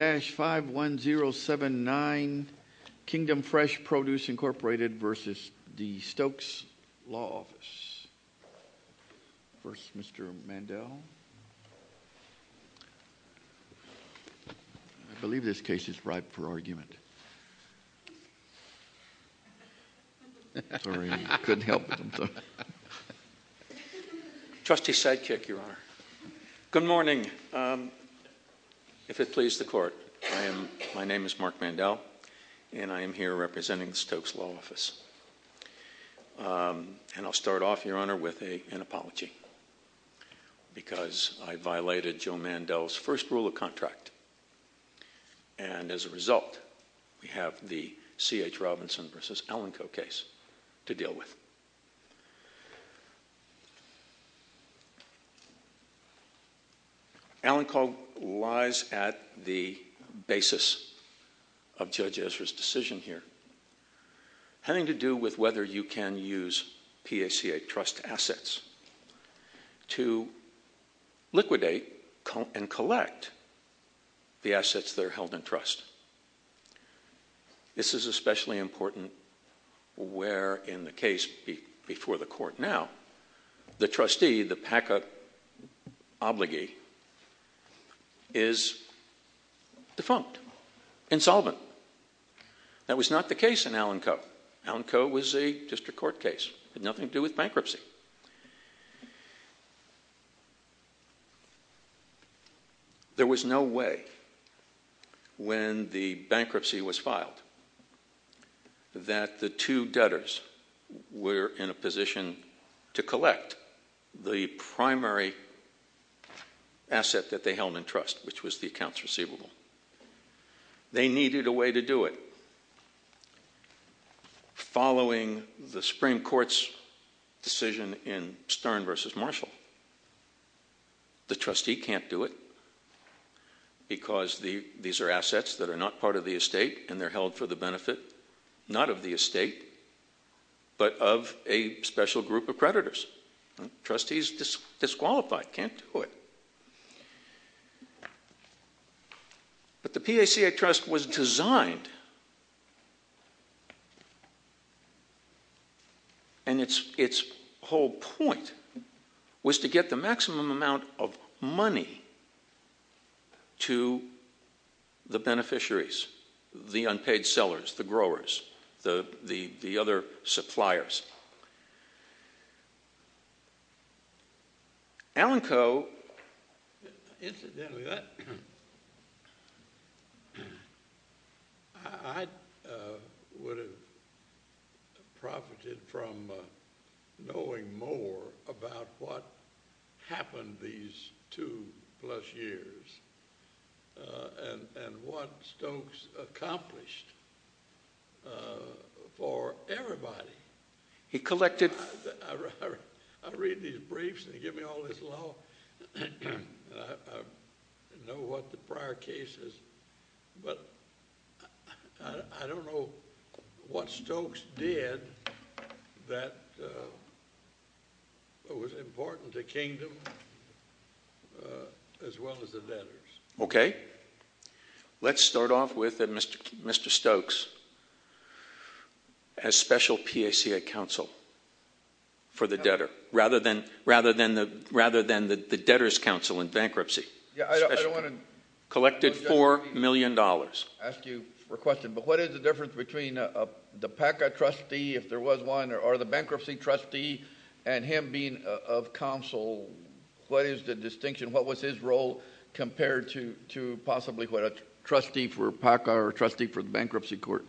51079, Kingdom Fresh Produce, Inc. v. Stokes Law Office. First, Mr. Mandel. I believe this case is ripe for argument. Sorry, I couldn't help it. Trustee Sidekick, Your Honor. Good morning. If it pleases the Court, my name is Mark Mandel, and I am here representing the Stokes Law Office. And I'll start off, Your Honor, with an apology. Because I violated Joe Mandel's first rule of contract. And as a result, we have the C.H. Robinson v. Alenco case to deal with. Alenco lies at the basis of Judge Ezra's decision here. Having to do with whether you can use PACA trust assets to liquidate and collect the assets that are held in trust. This is especially important where, in the case before the Court now, the trustee, the PACA obligee, is defunct. Insolvent. That was not the case in Alenco. Alenco was just a court case. It had nothing to do with bankruptcy. There was no way, when the bankruptcy was filed, that the two debtors were in a position to collect the primary asset that they held in trust, which was the accounts receivable. They needed a way to do it. Following the Supreme Court's decision in Stern v. Marshall, the trustee can't do it. Because these are assets that are not part of the estate, and they're held for the benefit, not of the estate, but of a special group of creditors. The trustee's disqualified. Can't do it. But the PACA trust was designed, and its whole point was to get the maximum amount of money to the beneficiaries, the unpaid sellers, the growers, the other suppliers. Alenco, incidentally, I would have profited from knowing more about what happened these two-plus years and what Stokes accomplished for everybody. I read these briefs, and they give me all this law, and I know what the prior case is, but I don't know what Stokes did that was important to Kingdom as well as the debtors. Let's start off with Mr. Stokes as special PACA counsel for the debtor, rather than the debtor's counsel in bankruptcy. Collected $4 million. What is the difference between the PACA trustee, if there was one, or the bankruptcy trustee, and him being of counsel? What is the distinction? What was his role compared to possibly what a trustee for PACA or a trustee for the bankruptcy court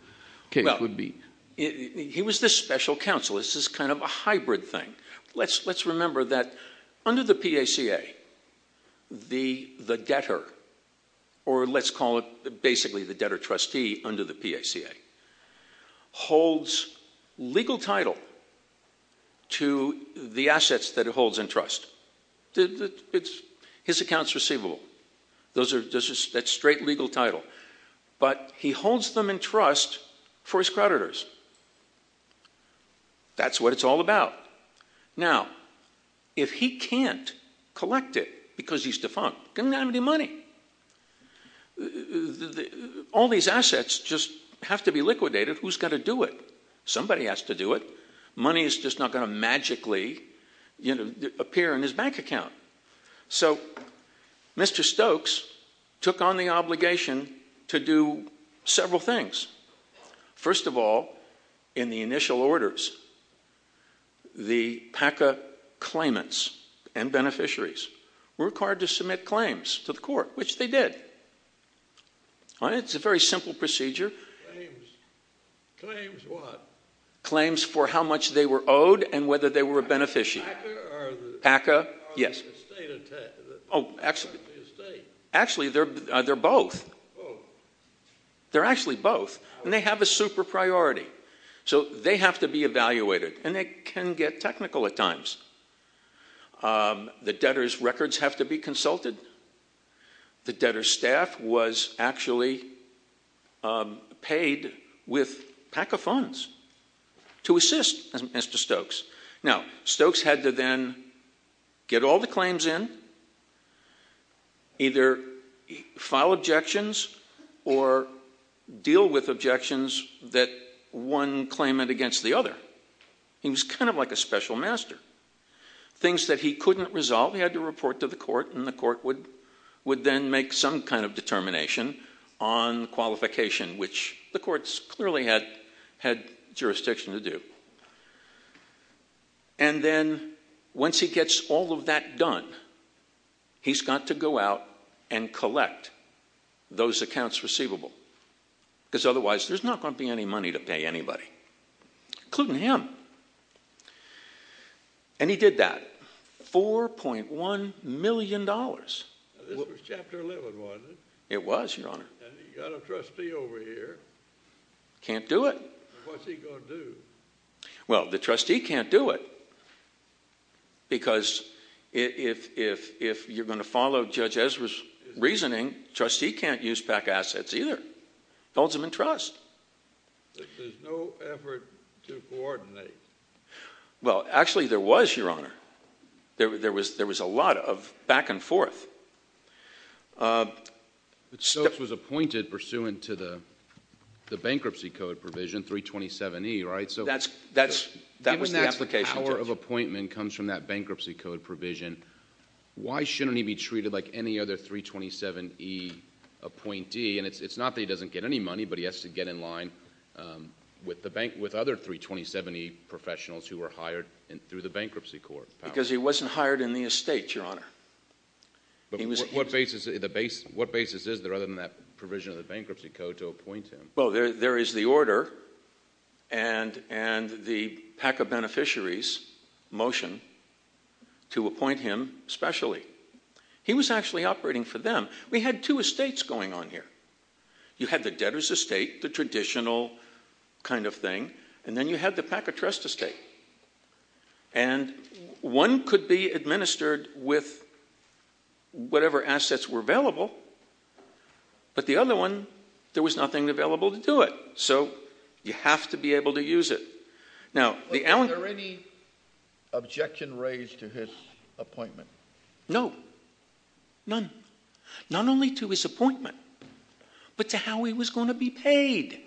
case would be? He was this special counsel. It's this kind of a hybrid thing. Let's remember that under the PACA, the debtor, or let's call it basically the debtor trustee under the PACA, holds legal title to the assets that it holds in trust. His account's receivable. That's straight legal title. But he holds them in trust for his creditors. That's what it's all about. Now, if he can't collect it because he's defunct, he doesn't have any money. All these assets just have to be liquidated. Who's going to do it? Somebody has to do it. Money is just not going to magically appear in his bank account. So Mr. Stokes took on the obligation to do several things. First of all, in the initial orders, the PACA claimants and beneficiaries were required to submit claims to the court, which they did. It's a very simple procedure. Claims for what? Claims for how much they were owed and whether they were a beneficiary. PACA or the estate? Actually, they're both. They're actually both, and they have a super priority. So they have to be evaluated, and it can get technical at times. The debtor's records have to be consulted. The debtor's staff was actually paid with PACA funds to assist Mr. Stokes. Now, Stokes had to then get all the claims in, either file objections or deal with objections that one claimant against the other. He was kind of like a special master. Things that he couldn't resolve, he had to report to the court, and the court would then make some kind of determination on qualification, which the courts clearly had jurisdiction to do. And then once he gets all of that done, he's got to go out and collect those accounts receivable, because otherwise there's not going to be any money to pay anybody, including him. And he did that. $4.1 million. This was Chapter 11, wasn't it? It was, Your Honor. And he got a trustee over here. Can't do it. What's he going to do? Well, the trustee can't do it, because if you're going to follow Judge Ezra's reasoning, the trustee can't use PACA assets either. Builds them in trust. There's no effort to coordinate. Well, actually there was, Your Honor. There was a lot of back and forth. Stokes was appointed pursuant to the bankruptcy code provision, 327E, right? That was the application. The power of appointment comes from that bankruptcy code provision. Why shouldn't he be treated like any other 327E appointee? And it's not that he doesn't get any money, but he has to get in line with other 327E professionals who were hired through the bankruptcy court. Because he wasn't hired in the estate, Your Honor. But what basis is there other than that provision of the bankruptcy code to appoint him? Well, there is the order and the PACA beneficiaries' motion to appoint him specially. He was actually operating for them. We had two estates going on here. You had the debtor's estate, the traditional kind of thing, and then you had the PACA trust estate. And one could be administered with whatever assets were available, but the other one, there was nothing available to do it. So you have to be able to use it. Was there any objection raised to his appointment? No, none. Not only to his appointment, but to how he was going to be paid.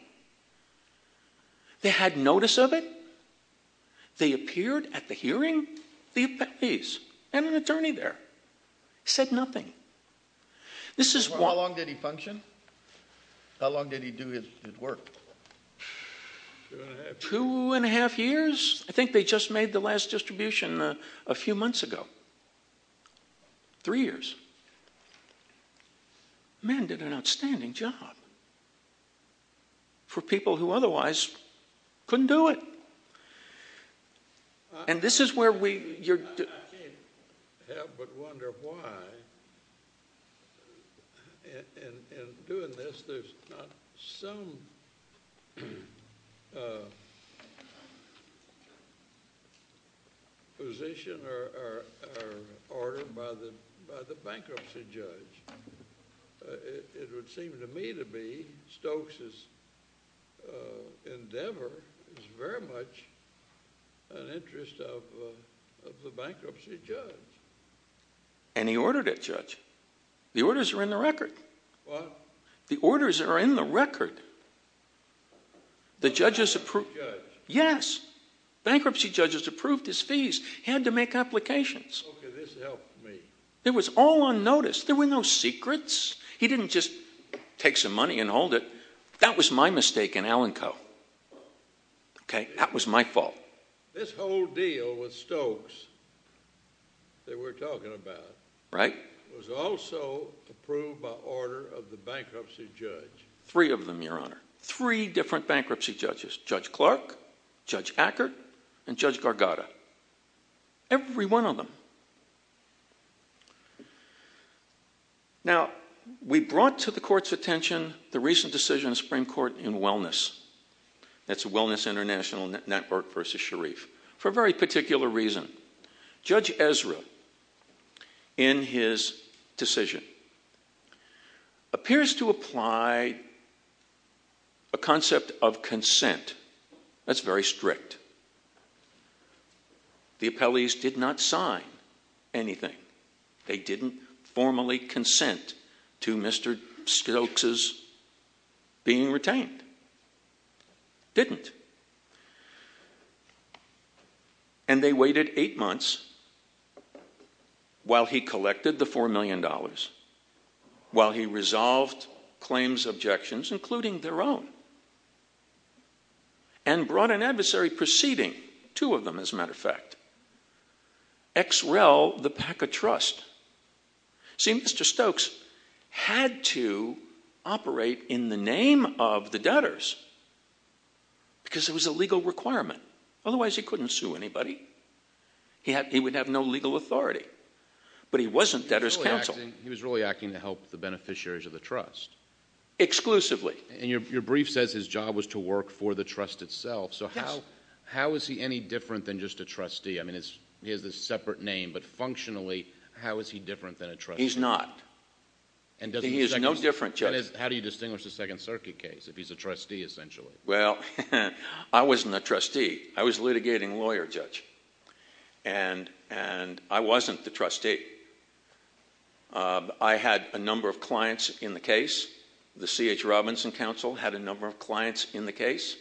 They had notice of it. They appeared at the hearing. The attorneys and an attorney there said nothing. How long did he function? How long did he do his work? Two and a half years. I think they just made the last distribution a few months ago. Three years. The man did an outstanding job. For people who otherwise couldn't do it. I can't help but wonder why, in doing this, there's not some position or order by the bankruptcy judge. It would seem to me to be Stokes' endeavor is very much an interest of the bankruptcy judge. And he ordered it, Judge. The orders are in the record. What? The orders are in the record. Bankruptcy judge? Yes. Bankruptcy judge has approved his fees. He had to make applications. Okay, this helped me. It was all on notice. There were no secrets. He didn't just take some money and hold it. That was my mistake in Allen Co. Okay, that was my fault. This whole deal with Stokes that we're talking about. Right. Was also approved by order of the bankruptcy judge. Three of them, Your Honor. Three different bankruptcy judges. Judge Clark, Judge Ackert, and Judge Gargotta. Every one of them. Now, we brought to the court's attention the recent decision of the Supreme Court in wellness. That's the Wellness International Network versus Sharif. For a very particular reason. Judge Ezra, in his decision, appears to apply a concept of consent. That's very strict. The appellees did not sign anything. They didn't formally consent to Mr. Stokes' being retained. Didn't. And they waited eight months while he collected the $4 million. While he resolved claims objections, including their own. And brought an adversary proceeding. Two of them, as a matter of fact. XREL, the PACA trust. See, Mr. Stokes had to operate in the name of the debtors. Because it was a legal requirement. Otherwise, he couldn't sue anybody. He would have no legal authority. But he wasn't debtors counsel. He was really acting to help the beneficiaries of the trust. Exclusively. And your brief says his job was to work for the trust itself. So how is he any different than just a trustee? I mean, he has a separate name. But functionally, how is he different than a trustee? He's not. He is no different, Judge. How do you distinguish a Second Circuit case if he's a trustee, essentially? Well, I wasn't a trustee. I was a litigating lawyer, Judge. And I wasn't the trustee. I had a number of clients in the case. The C.H. Robinson counsel had a number of clients in the case.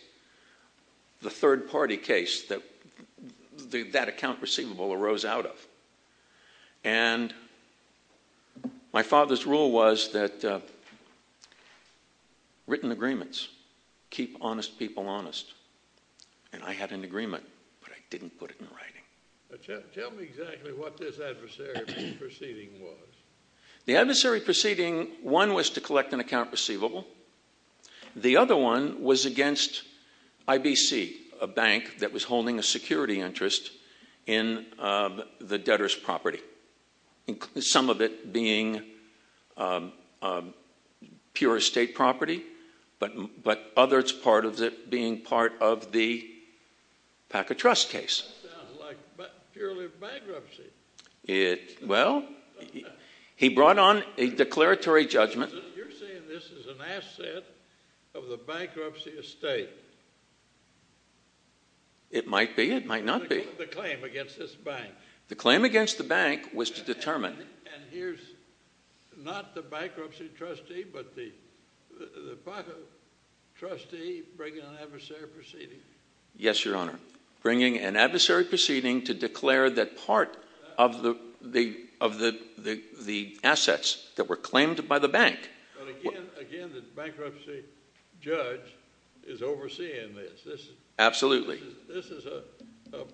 The third-party case, that account receivable arose out of. And my father's rule was that written agreements keep honest people honest. And I had an agreement, but I didn't put it in writing. Tell me exactly what this adversary proceeding was. The adversary proceeding, one was to collect an account receivable. The other one was against IBC, a bank that was holding a security interest in the debtor's property. Some of it being pure estate property, but others part of it being part of the Packer Trust case. That sounds like purely bankruptcy. Well, he brought on a declaratory judgment. You're saying this is an asset of the bankruptcy estate. It might be. It might not be. The claim against this bank. The claim against the bank was to determine. And here's not the bankruptcy trustee, but the Packer trustee bringing an adversary proceeding. Yes, Your Honor. Bringing an adversary proceeding to declare that part of the assets that were claimed by the bank. But again, the bankruptcy judge is overseeing this. Absolutely. This is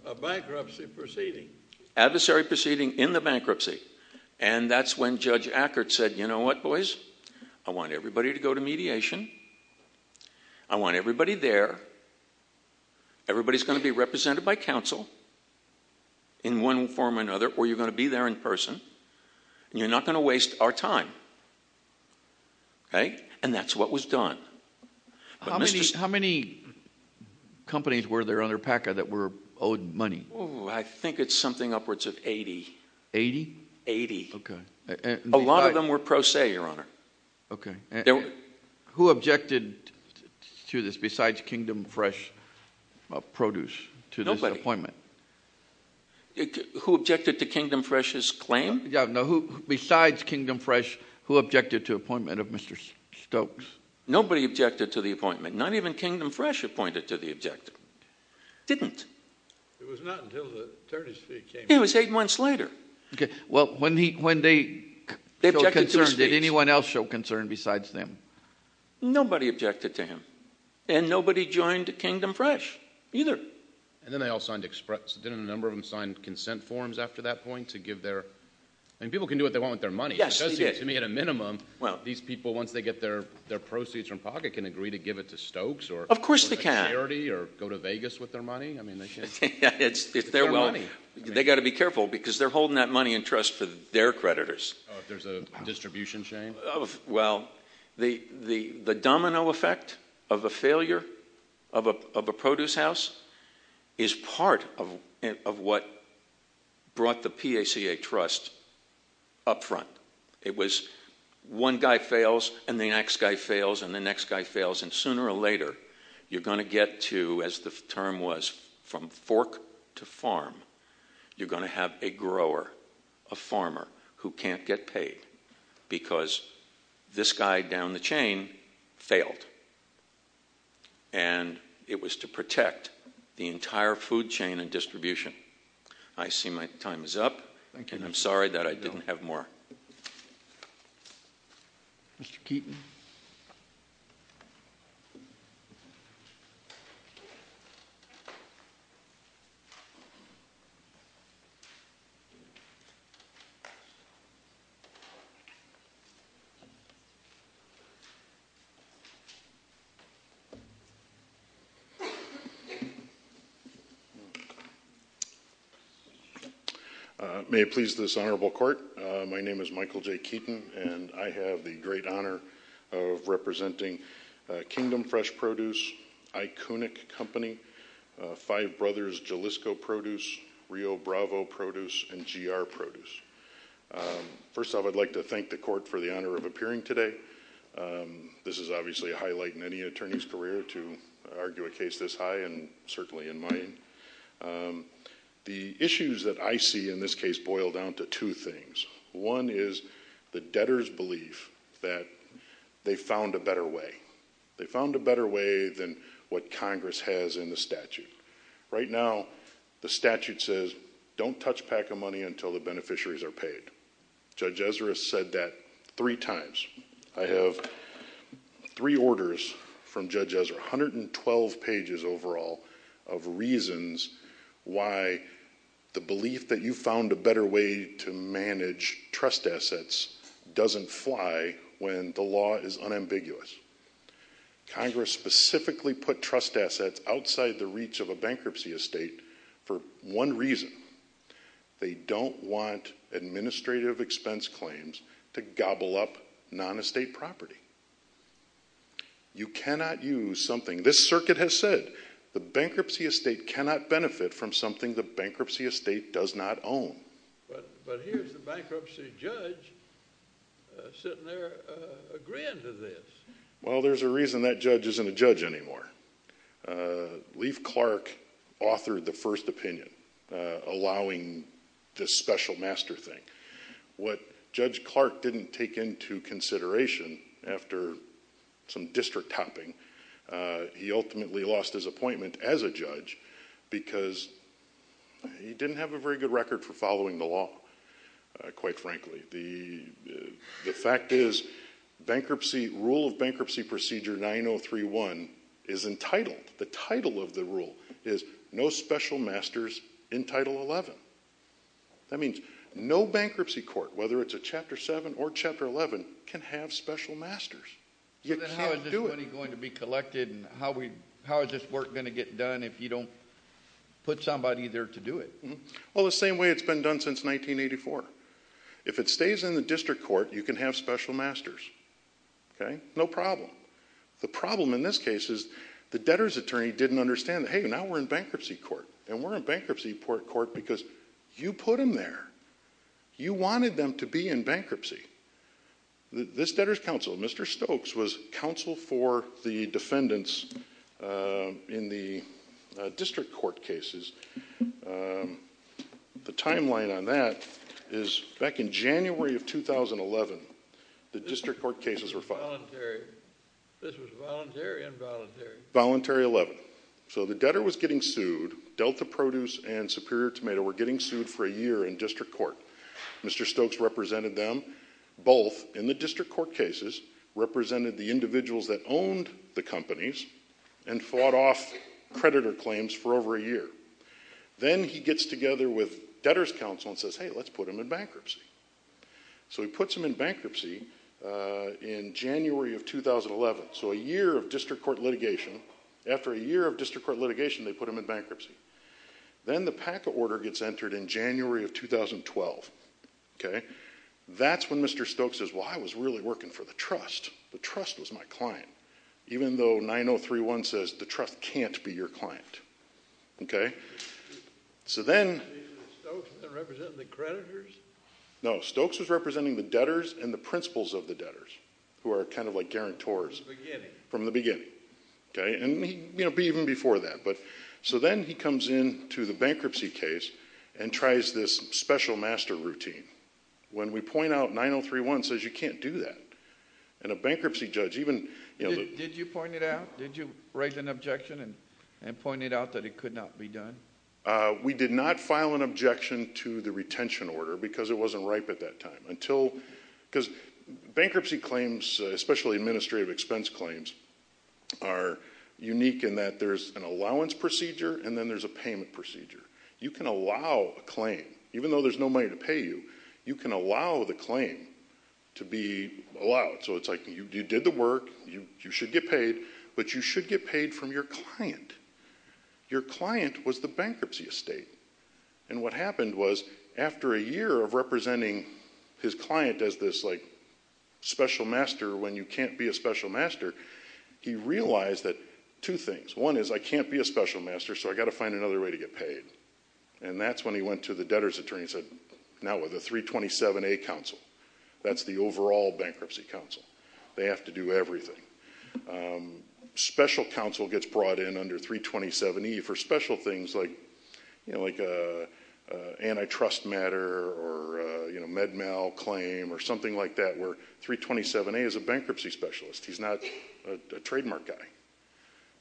a bankruptcy proceeding. Adversary proceeding in the bankruptcy. And that's when Judge Ackert said, you know what, boys? I want everybody to go to mediation. I want everybody there. Everybody's going to be represented by counsel in one form or another, or you're going to be there in person, and you're not going to waste our time. And that's what was done. How many companies were there under Packer that were owed money? I think it's something upwards of 80. 80? 80. A lot of them were pro se, Your Honor. Okay. Who objected to this besides Kingdom Fresh Produce to this appointment? Nobody. Who objected to Kingdom Fresh's claim? No, besides Kingdom Fresh, who objected to the appointment of Mr. Stokes? Nobody objected to the appointment. Not even Kingdom Fresh appointed to the objective. Didn't. It was not until the attorney's fee came. It was eight months later. Okay. Well, when they showed concern, did anyone else show concern besides them? Nobody objected to him. And nobody joined Kingdom Fresh either. And then they all signed express. Didn't a number of them sign consent forms after that point to give their... I mean, people can do what they want with their money. Yes, they did. It does seem to me at a minimum these people, once they get their proceeds from Packer, can agree to give it to Stokes. Of course they can. Or a charity, or go to Vegas with their money. It's their money. They've got to be careful because they're holding that money in trust for their creditors. There's a distribution chain. Well, the domino effect of a failure of a produce house is part of what brought the PACA Trust up front. It was one guy fails, and the next guy fails, and the next guy fails, and sooner or later you're going to get to, as the term was, from fork to farm. You're going to have a grower, a farmer, who can't get paid because this guy down the chain failed. And it was to protect the entire food chain and distribution. I see my time is up, and I'm sorry that I didn't have more. Mr. Keeton. May it please this honorable court, my name is Michael J. Keeton, and I have the great honor of representing Kingdom Fresh Produce, Iconic Company, Five Brothers Jalisco Produce, Rio Bravo Produce, and GR Produce. First off, I'd like to thank the court for the honor of appearing today. This is obviously a highlight in any attorney's career to argue a case this high, and certainly in mine. The issues that I see in this case boil down to two things. One is the debtors' belief that they found a better way. They found a better way than what Congress has in the statute. Right now, the statute says, don't touch PACA money until the beneficiaries are paid. Judge Ezra said that three times. I have three orders from Judge Ezra, 112 pages overall, of reasons why the belief that you found a better way to manage trust assets doesn't fly when the law is unambiguous. Congress specifically put trust assets outside the reach of a bankruptcy estate for one reason. They don't want administrative expense claims to gobble up non-estate property. You cannot use something, this circuit has said, the bankruptcy estate cannot benefit from something the bankruptcy estate does not own. But here's the bankruptcy judge sitting there agreeing to this. Well, there's a reason that judge isn't a judge anymore. Leif Clark authored the first opinion allowing this special master thing. What Judge Clark didn't take into consideration after some district topping, he ultimately lost his appointment as a judge because he didn't have a very good record for following the law, quite frankly. The fact is bankruptcy, rule of bankruptcy procedure 9031 is entitled, the title of the rule is no special masters in Title 11. That means no bankruptcy court, whether it's a Chapter 7 or Chapter 11, can have special masters. You can't do it. So then how is this money going to be collected and how is this work going to get done if you don't put somebody there to do it? Well, the same way it's been done since 1984. If it stays in the district court, you can have special masters, okay? No problem. The problem in this case is the debtor's attorney didn't understand, hey, now we're in bankruptcy court, and we're in bankruptcy court because you put them there. You wanted them to be in bankruptcy. This debtor's counsel, Mr. Stokes, was counsel for the defendants in the district court cases. The timeline on that is back in January of 2011, the district court cases were filed. This was voluntary or involuntary? Voluntary 11. So the debtor was getting sued. Delta Produce and Superior Tomato were getting sued for a year in district court. Mr. Stokes represented them both in the district court cases, represented the individuals that owned the companies, and fought off creditor claims for over a year. Then he gets together with debtor's counsel and says, hey, let's put them in bankruptcy. So he puts them in bankruptcy in January of 2011, so a year of district court litigation. After a year of district court litigation, they put them in bankruptcy. Then the PACA order gets entered in January of 2012, okay? That's when Mr. Stokes says, well, I was really working for the trust. The trust was my client. Even though 9031 says the trust can't be your client, okay? So then— Was Stokes representing the creditors? No, Stokes was representing the debtors and the principals of the debtors, who are kind of like guarantors. From the beginning. From the beginning, okay? And, you know, even before that. So then he comes in to the bankruptcy case and tries this special master routine. When we point out 9031 says you can't do that. And a bankruptcy judge, even— Did you point it out? Did you raise an objection and point it out that it could not be done? We did not file an objection to the retention order because it wasn't ripe at that time. Until—because bankruptcy claims, especially administrative expense claims, are unique in that there's an allowance procedure, and then there's a payment procedure. You can allow a claim. Even though there's no money to pay you, you can allow the claim to be allowed. So it's like you did the work. You should get paid. But you should get paid from your client. Your client was the bankruptcy estate. And what happened was after a year of representing his client as this, like, special master when you can't be a special master, he realized that two things. One is I can't be a special master, so I've got to find another way to get paid. And that's when he went to the debtor's attorney and said, no, the 327A counsel. That's the overall bankruptcy counsel. They have to do everything. Special counsel gets brought in under 327E for special things like antitrust matter or, you know, Med-Mal claim or something like that, where 327A is a bankruptcy specialist. He's not a trademark guy.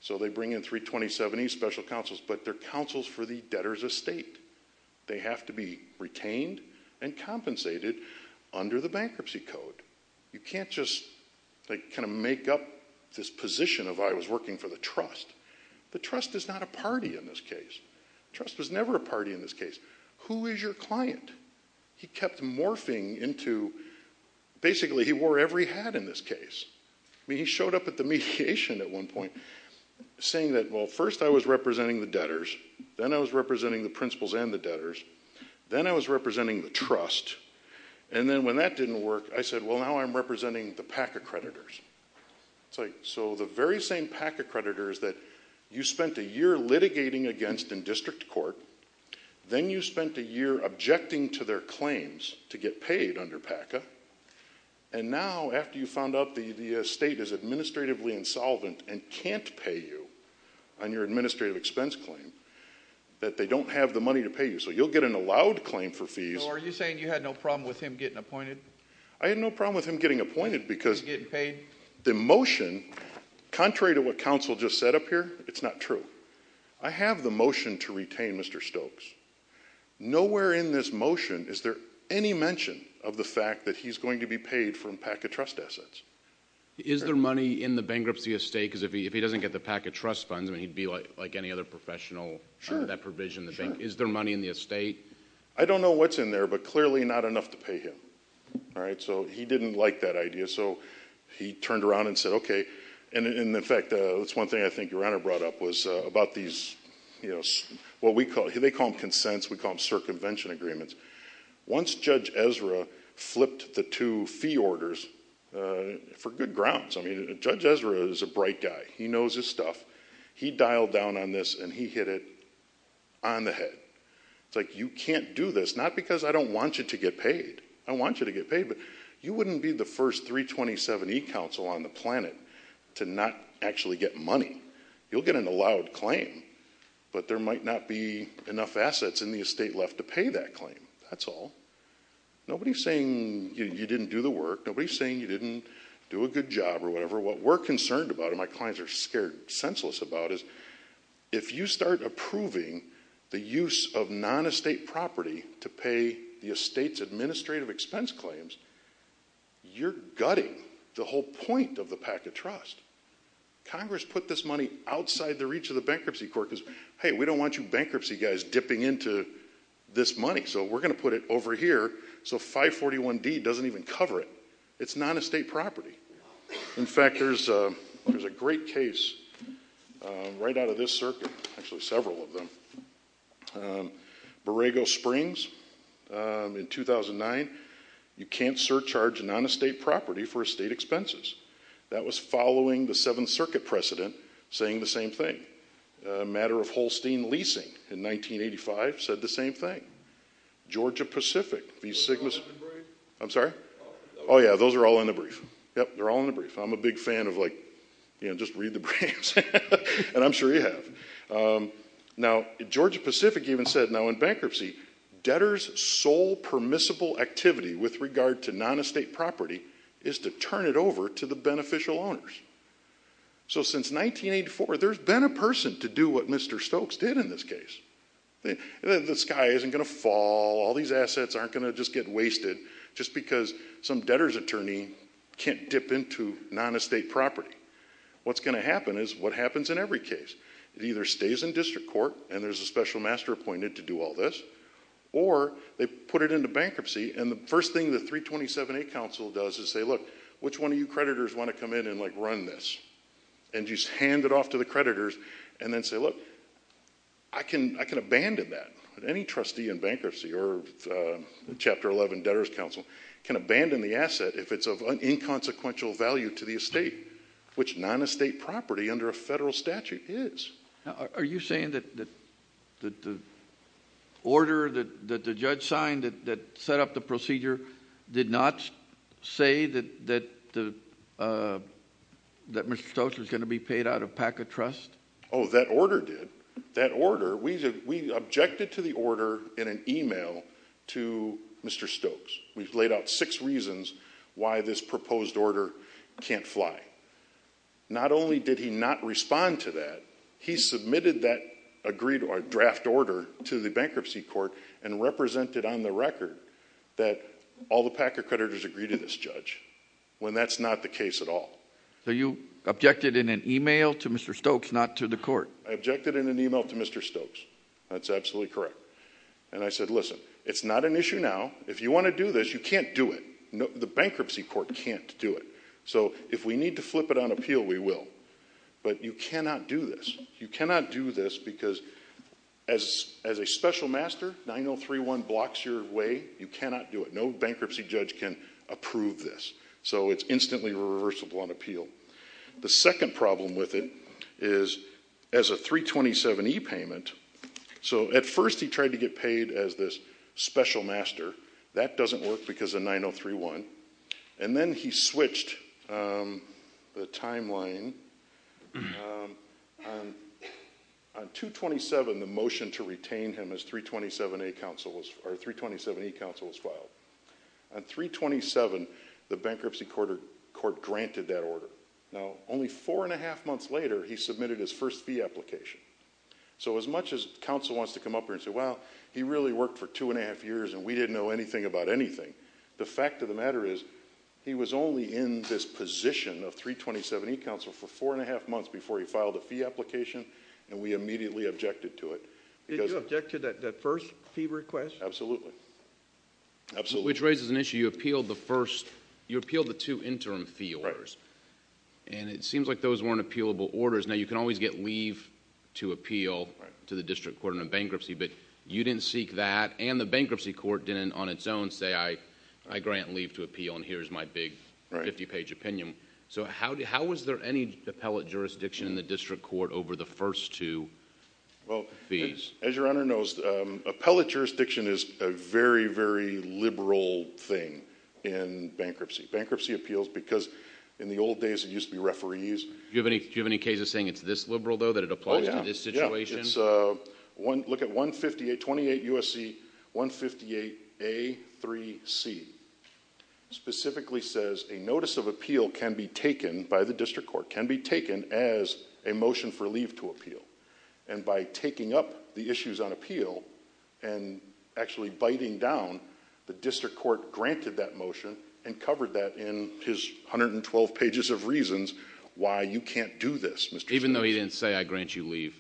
So they bring in 327E special counsels, but they're counsels for the debtor's estate. They have to be retained and compensated under the bankruptcy code. You can't just, like, kind of make up this position of I was working for the trust. The trust is not a party in this case. The trust was never a party in this case. Who is your client? He kept morphing into basically he wore every hat in this case. I mean, he showed up at the mediation at one point saying that, well, first I was representing the debtors. Then I was representing the principals and the debtors. Then I was representing the trust. And then when that didn't work, I said, well, now I'm representing the PAC accreditors. So the very same PAC accreditors that you spent a year litigating against in district court, then you spent a year objecting to their claims to get paid under PACA, and now after you found out the estate is administratively insolvent and can't pay you on your administrative expense claim, that they don't have the money to pay you. So you'll get an allowed claim for fees. So are you saying you had no problem with him getting appointed? I had no problem with him getting appointed because the motion, contrary to what counsel just said up here, it's not true. I have the motion to retain Mr. Stokes. Nowhere in this motion is there any mention of the fact that he's going to be paid from PACA trust assets. Is there money in the bankruptcy estate? Because if he doesn't get the PACA trust funds, I mean, he'd be like any other professional under that provision. Sure, sure. Is there money in the estate? I don't know what's in there, but clearly not enough to pay him. All right, so he didn't like that idea. So he turned around and said, OK. And in fact, that's one thing I think Your Honor brought up was about these, you know, what we call, they call them consents. We call them circumvention agreements. Once Judge Ezra flipped the two fee orders, for good grounds, I mean, Judge Ezra is a bright guy. He knows his stuff. He dialed down on this, and he hit it on the head. It's like, you can't do this, not because I don't want you to get paid. I want you to get paid, but you wouldn't be the first 327E counsel on the planet to not actually get money. You'll get an allowed claim, but there might not be enough assets in the estate left to pay that claim. That's all. Nobody's saying you didn't do the work. Nobody's saying you didn't do a good job or whatever. What we're concerned about, and my clients are scared senseless about, is if you start approving the use of non-estate property to pay the estate's administrative expense claims, you're gutting the whole point of the packet trust. Congress put this money outside the reach of the Bankruptcy Court because, hey, we don't want you bankruptcy guys dipping into this money, so we're going to put it over here so 541D doesn't even cover it. It's non-estate property. In fact, there's a great case right out of this circuit, actually several of them. Borrego Springs in 2009, you can't surcharge a non-estate property for estate expenses. That was following the Seventh Circuit precedent saying the same thing. A matter of Holstein leasing in 1985 said the same thing. Georgia Pacific v. Sigma... Those are all in the brief? I'm sorry? Oh, yeah, those are all in the brief. Yep, they're all in the brief. I'm a big fan of like, you know, just read the briefs, and I'm sure you have. Now, Georgia Pacific even said, now in bankruptcy, debtors' sole permissible activity with regard to non-estate property is to turn it over to the beneficial owners. So since 1984, there's been a person to do what Mr. Stokes did in this case. The sky isn't going to fall. All these assets aren't going to just get wasted just because some debtor's attorney can't dip into non-estate property. What's going to happen is what happens in every case. It either stays in district court, and there's a special master appointed to do all this, or they put it into bankruptcy, and the first thing the 327A council does is say, look, which one of you creditors want to come in and, like, run this? And just hand it off to the creditors and then say, look, I can abandon that. Any trustee in bankruptcy or Chapter 11 debtors' council can abandon the asset if it's of inconsequential value to the estate, which non-estate property under a federal statute is. Are you saying that the order that the judge signed that set up the procedure did not say that Mr. Stokes was going to be paid out of PACA trust? Oh, that order did. That order, we objected to the order in an email to Mr. Stokes. We've laid out six reasons why this proposed order can't fly. Not only did he not respond to that, he submitted that agreed or draft order to the bankruptcy court and represented on the record that all the PACA creditors agree to this judge, when that's not the case at all. So you objected in an email to Mr. Stokes, not to the court? I objected in an email to Mr. Stokes. That's absolutely correct. And I said, listen, it's not an issue now. If you want to do this, you can't do it. The bankruptcy court can't do it. So if we need to flip it on appeal, we will. But you cannot do this. You cannot do this because, as a special master, 9031 blocks your way. You cannot do it. No bankruptcy judge can approve this. So it's instantly reversible on appeal. The second problem with it is, as a 327e payment, so at first he tried to get paid as this special master. That doesn't work because of 9031. And then he switched the timeline. On 227, the motion to retain him as 327e counsel was filed. On 327, the bankruptcy court granted that order. Now, only four and a half months later, he submitted his first fee application. So as much as counsel wants to come up here and say, well, he really worked for two and a half years and we didn't know anything about anything, the fact of the matter is, he was only in this position of 327e counsel for four and a half months before he filed a fee application, and we immediately objected to it. Did you object to that first fee request? Absolutely. Absolutely. Which raises an issue. You appealed the first... you appealed the two interim fee orders. Right. And it seems like those weren't appealable orders. Now, you can always get leave to appeal to the district court in a bankruptcy, but you didn't seek that, and the bankruptcy court didn't on its own say, I grant leave to appeal, and here's my big 50-page opinion. So how was there any appellate jurisdiction in the district court over the first two fees? As your Honor knows, appellate jurisdiction is a very, very liberal thing in bankruptcy. Bankruptcy appeals, because in the old days, it used to be referees. Do you have any cases saying it's this liberal, though, that it applies to this situation? It's... look at 158... 28 U.S.C. 158A.3.C. Specifically says a notice of appeal can be taken by the district court, can be taken as a motion for leave to appeal, and by taking up the issues on appeal and actually biting down, the district court granted that motion and covered that in his 112 pages of reasons why you can't do this, Mr. Chairman. Even though he didn't say, I grant you leave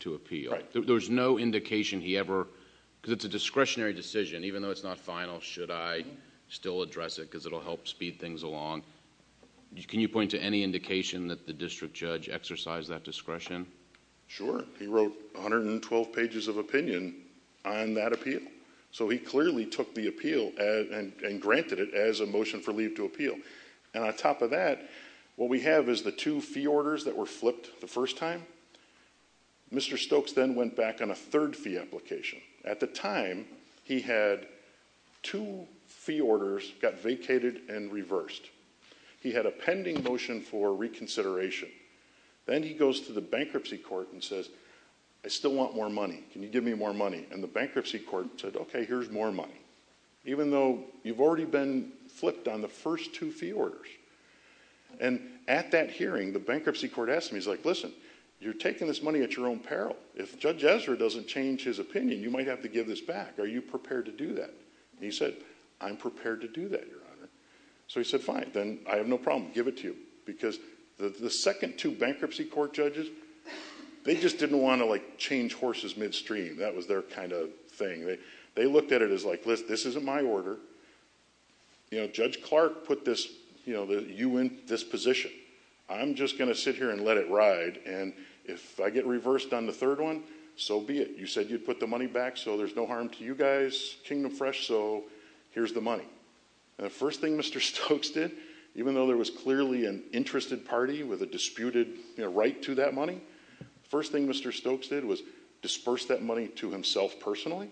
to appeal. There was no indication he ever... because it's a discretionary decision. Even though it's not final, should I still address it because it will help speed things along? Can you point to any indication that the district judge exercised that discretion? Sure. He wrote 112 pages of opinion on that appeal. So he clearly took the appeal and granted it as a motion for leave to appeal. And on top of that, what we have is the two fee orders that were flipped the first time. Mr. Stokes then went back on a third fee application. At the time, he had two fee orders got vacated and reversed. He had a pending motion for reconsideration. Then he goes to the bankruptcy court and says, I still want more money. Can you give me more money? And the bankruptcy court said, okay, here's more money. Even though you've already been flipped on the first two fee orders. And at that hearing, the bankruptcy court asked him, he's like, listen, you're taking this money at your own peril. If Judge Ezra doesn't change his opinion, you might have to give this back. Are you prepared to do that? And he said, I'm prepared to do that, Your Honor. So he said, fine, then I have no problem. Give it to you. Because the second two bankruptcy court judges, they just didn't want to like change horses midstream. That was their kind of thing. They looked at it as like, listen, this isn't my order. You know, Judge Clark put this, you know, you in this position. I'm just going to sit here and let it ride. And if I get reversed on the third one, so be it. You said you'd put the money back. So there's no harm to you guys, kingdom fresh. So here's the money. The first thing Mr. Stokes did, even though there was clearly an interested party with a disputed right to that money. First thing Mr. Stokes did was disperse that money to himself personally.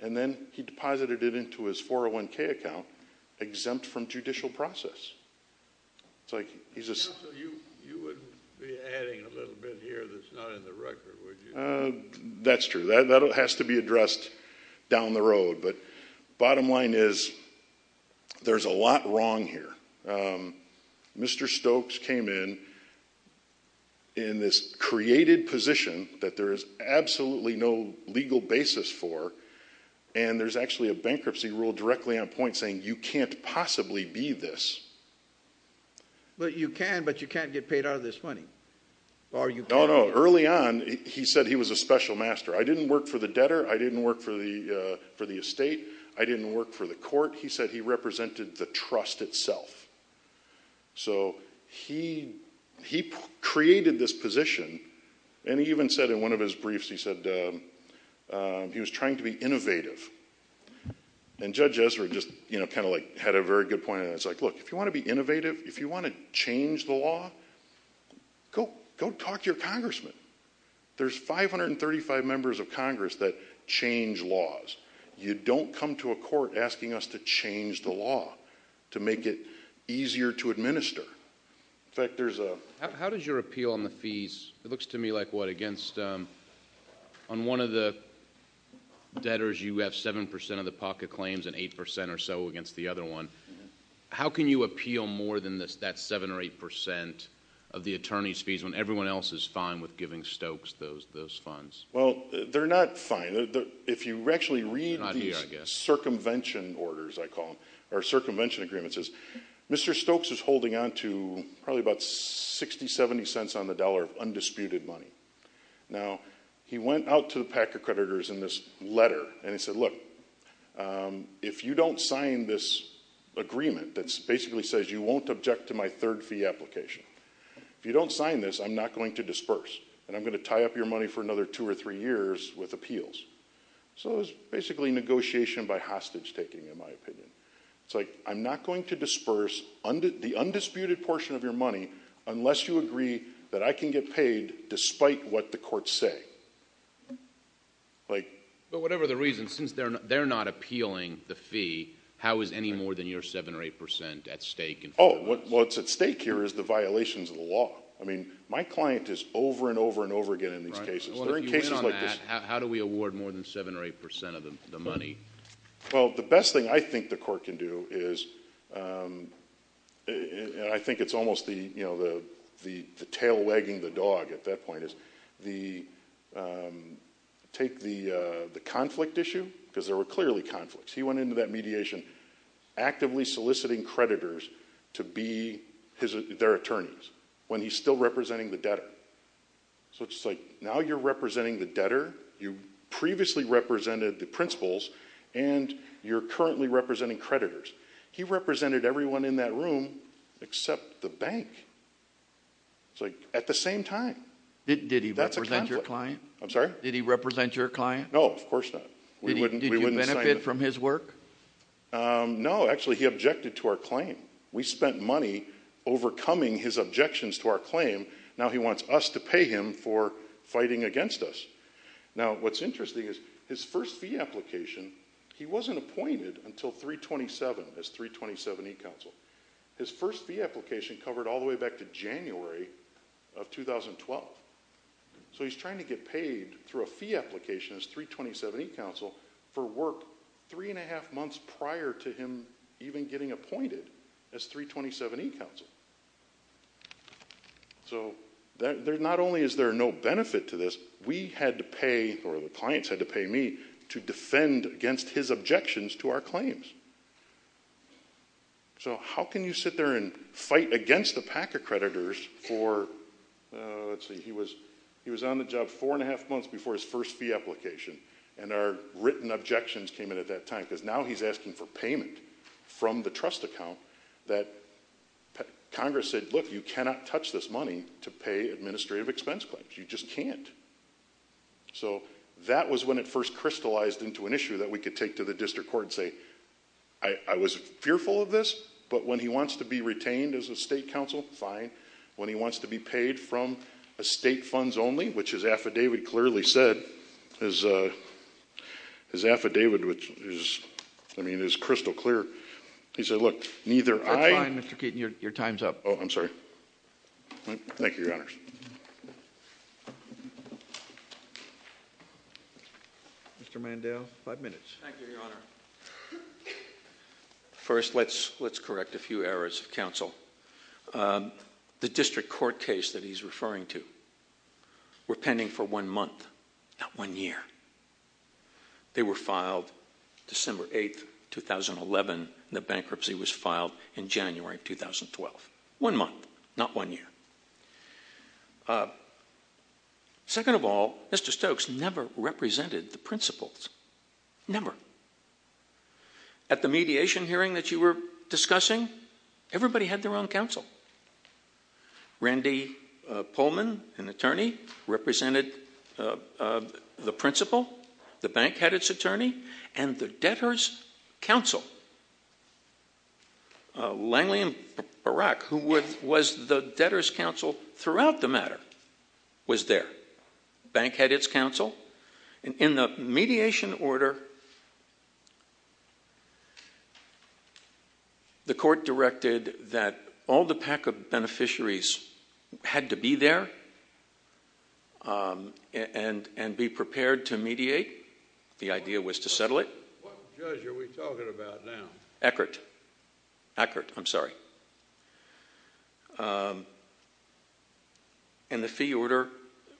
And then he deposited it into his 401k account, exempt from judicial process. So you wouldn't be adding a little bit here that's not in the record, would you? That's true. That has to be addressed down the road. But bottom line is, there's a lot wrong here. Mr. Stokes came in in this created position that there is absolutely no legal basis for. And there's actually a bankruptcy rule directly on point saying you can't possibly be this. But you can, but you can't get paid out of this money. No, no. Early on, he said he was a special master. I didn't work for the debtor. I didn't work for the estate. I didn't work for the court. He said he represented the trust itself. So he created this position. And he even said in one of his briefs, he said he was trying to be innovative. And Judge Ezra just kind of like had a very good point. And it's like, look, if you want to be innovative, if you want to change the law, go talk to your congressman. There's 535 members of Congress that change laws. You don't come to a court asking us to change the law to make it easier to administer. In fact, there's a... How does your appeal on the fees, it looks to me like what, against... On one of the debtors, you have 7% of the pocket claims and 8% or so against the other one. How can you appeal more than that 7% or 8% of the attorney's fees when everyone else is fine with giving Stokes those funds? Well, they're not fine. If you actually read these circumvention orders, I call them, or circumvention agreements, Mr. Stokes is holding on to probably about 60, 70 cents on the dollar of undisputed money. Now, he went out to the PAC accreditors in this letter and he said, look, if you don't sign this agreement that basically says you won't object to my third fee application, if you don't sign this, I'm not going to disperse, and I'm going to tie up your money for another two or three years with appeals. So it's basically negotiation by hostage taking, in my opinion. It's like, I'm not going to disperse the undisputed portion of your money unless you agree that I can get paid despite what the courts say. But whatever the reason, since they're not appealing the fee, how is any more than your 7% or 8% at stake? Oh, what's at stake here is the violations of the law. I mean, my client is over and over and over again in these cases. If you win on that, how do we award more than 7% or 8% of the money? Well, the best thing I think the court can do is, and I think it's almost the tail wagging the dog at that point, is take the conflict issue, because there were clearly conflicts. He went into that mediation actively soliciting creditors to be their attorneys when he's still representing the debtor. So it's like, now you're representing the debtor. You previously represented the principals, and you're currently representing creditors. He represented everyone in that room except the bank. It's like, at the same time, that's a conflict. Did he represent your client? I'm sorry? Did he represent your client? No, of course not. Did you benefit from his work? No, actually he objected to our claim. We spent money overcoming his objections to our claim. Now he wants us to pay him for fighting against us. Now, what's interesting is his first fee application, he wasn't appointed until 327 as 327E counsel. His first fee application covered all the way back to January of 2012. So he's trying to get paid through a fee application as 327E counsel for work three and a half months prior to him even getting appointed as 327E counsel. So not only is there no benefit to this, we had to pay, or the clients had to pay me, to defend against his objections to our claims. So how can you sit there and fight against the PAC accreditors for, let's see, he was on the job four and a half months before his first fee application, and our written objections came in at that time. Because now he's asking for payment from the trust account that Congress said, look, you cannot touch this money to pay administrative expense claims. You just can't. So that was when it first crystallized into an issue that we could take to the district court and say, I was fearful of this, but when he wants to be retained as a state counsel, fine. When he wants to be paid from estate funds only, which his affidavit clearly said, his affidavit, which is crystal clear, he said, look, neither I That's fine, Mr. Keaton, your time's up. Oh, I'm sorry. Thank you, Your Honors. Mr. Mandel, five minutes. Thank you, Your Honor. First, let's correct a few errors of counsel. The district court case that he's referring to were pending for one month, not one year. They were filed December 8, 2011, and the bankruptcy was filed in January of 2012. One month, not one year. Second of all, Mr. Stokes never represented the principals. Never. At the mediation hearing that you were discussing, everybody had their own counsel. Randy Pullman, an attorney, represented the principal, the bank had its attorney, and the debtors' counsel, Langley and Barak, who was the debtors' counsel throughout the matter, was there. The bank had its counsel. In the mediation order, the court directed that all the PACA beneficiaries had to be there and be prepared to mediate. The idea was to settle it. What judge are we talking about now? Eckert. Eckert. I'm sorry. And the fee order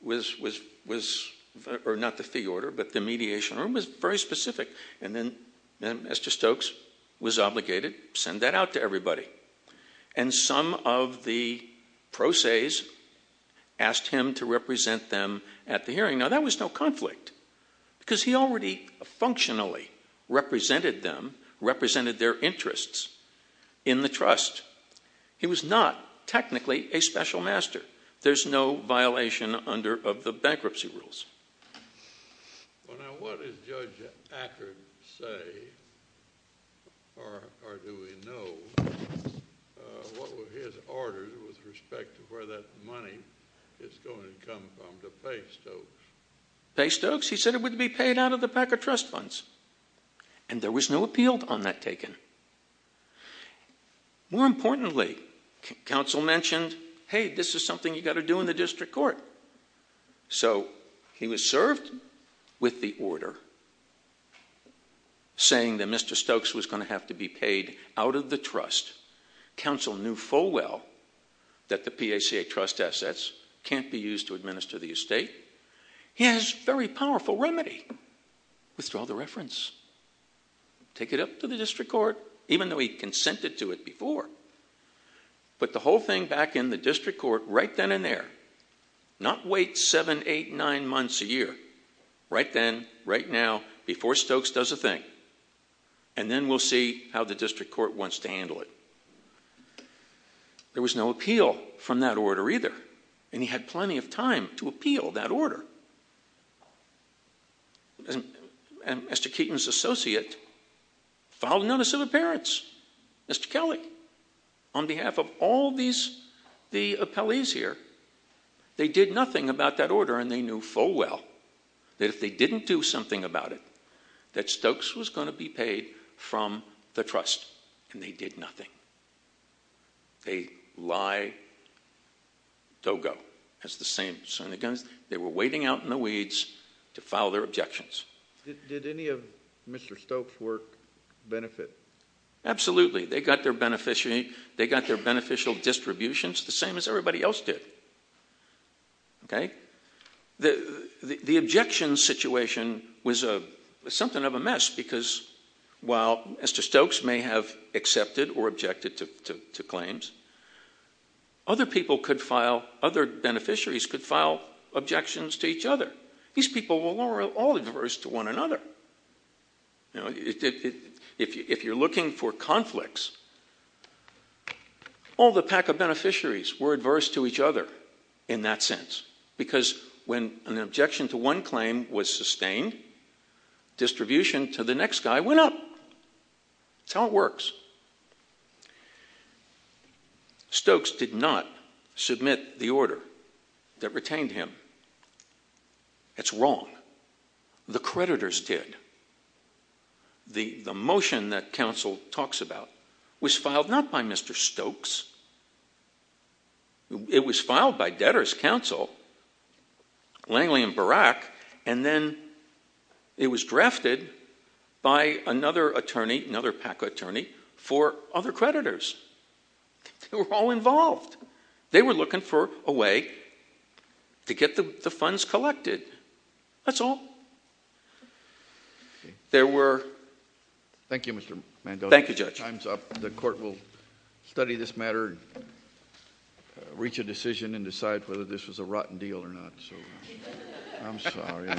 was—or not the fee order, but the mediation order was very specific. And then Mr. Stokes was obligated to send that out to everybody. Now, that was no conflict, because he already functionally represented them, represented their interests in the trust. He was not technically a special master. There's no violation under the bankruptcy rules. Well, now, what does Judge Eckert say, or do we know, what were his orders with respect to where that money is going to come from to pay Stokes? Pay Stokes? He said it would be paid out of the PACA trust funds. And there was no appeal on that taken. More importantly, counsel mentioned, hey, this is something you've got to do in the district court. So he was served with the order saying that Mr. Stokes was going to have to be paid out of the trust. Counsel knew full well that the PACA trust assets can't be used to administer the estate. He has a very powerful remedy. Withdraw the reference. Take it up to the district court, even though he consented to it before. Put the whole thing back in the district court right then and there. Not wait seven, eight, nine months, a year. Right then, right now, before Stokes does a thing. And then we'll see how the district court wants to handle it. There was no appeal from that order either. And he had plenty of time to appeal that order. And Mr. Keaton's associate filed a notice of appearance. Mr. Kelly, on behalf of all the appellees here, they did nothing about that order. And they knew full well that if they didn't do something about it, that Stokes was going to be paid from the trust. And they did nothing. They lie. They'll go. That's the same. They were waiting out in the weeds to file their objections. Did any of Mr. Stokes' work benefit? Absolutely. They got their beneficial distributions the same as everybody else did. Okay? The objection situation was something of a mess because while Mr. Stokes may have accepted or objected to claims, other people could file, other beneficiaries could file objections to each other. These people were all adverse to one another. You know, if you're looking for conflicts, all the PACA beneficiaries were adverse to each other in that sense because when an objection to one claim was sustained, distribution to the next guy went up. That's how it works. Stokes did not submit the order that retained him. That's wrong. The creditors did. The motion that counsel talks about was filed not by Mr. Stokes. It was filed by debtors' counsel, Langley and Barak, and then it was drafted by another attorney, another PACA attorney, for other creditors. They were all involved. They were looking for a way to get the funds collected. That's all. There were... Thank you, Mr. Mando. Thank you, Judge. Time's up. The court will study this matter, reach a decision, and decide whether this was a rotten deal or not. I'm sorry.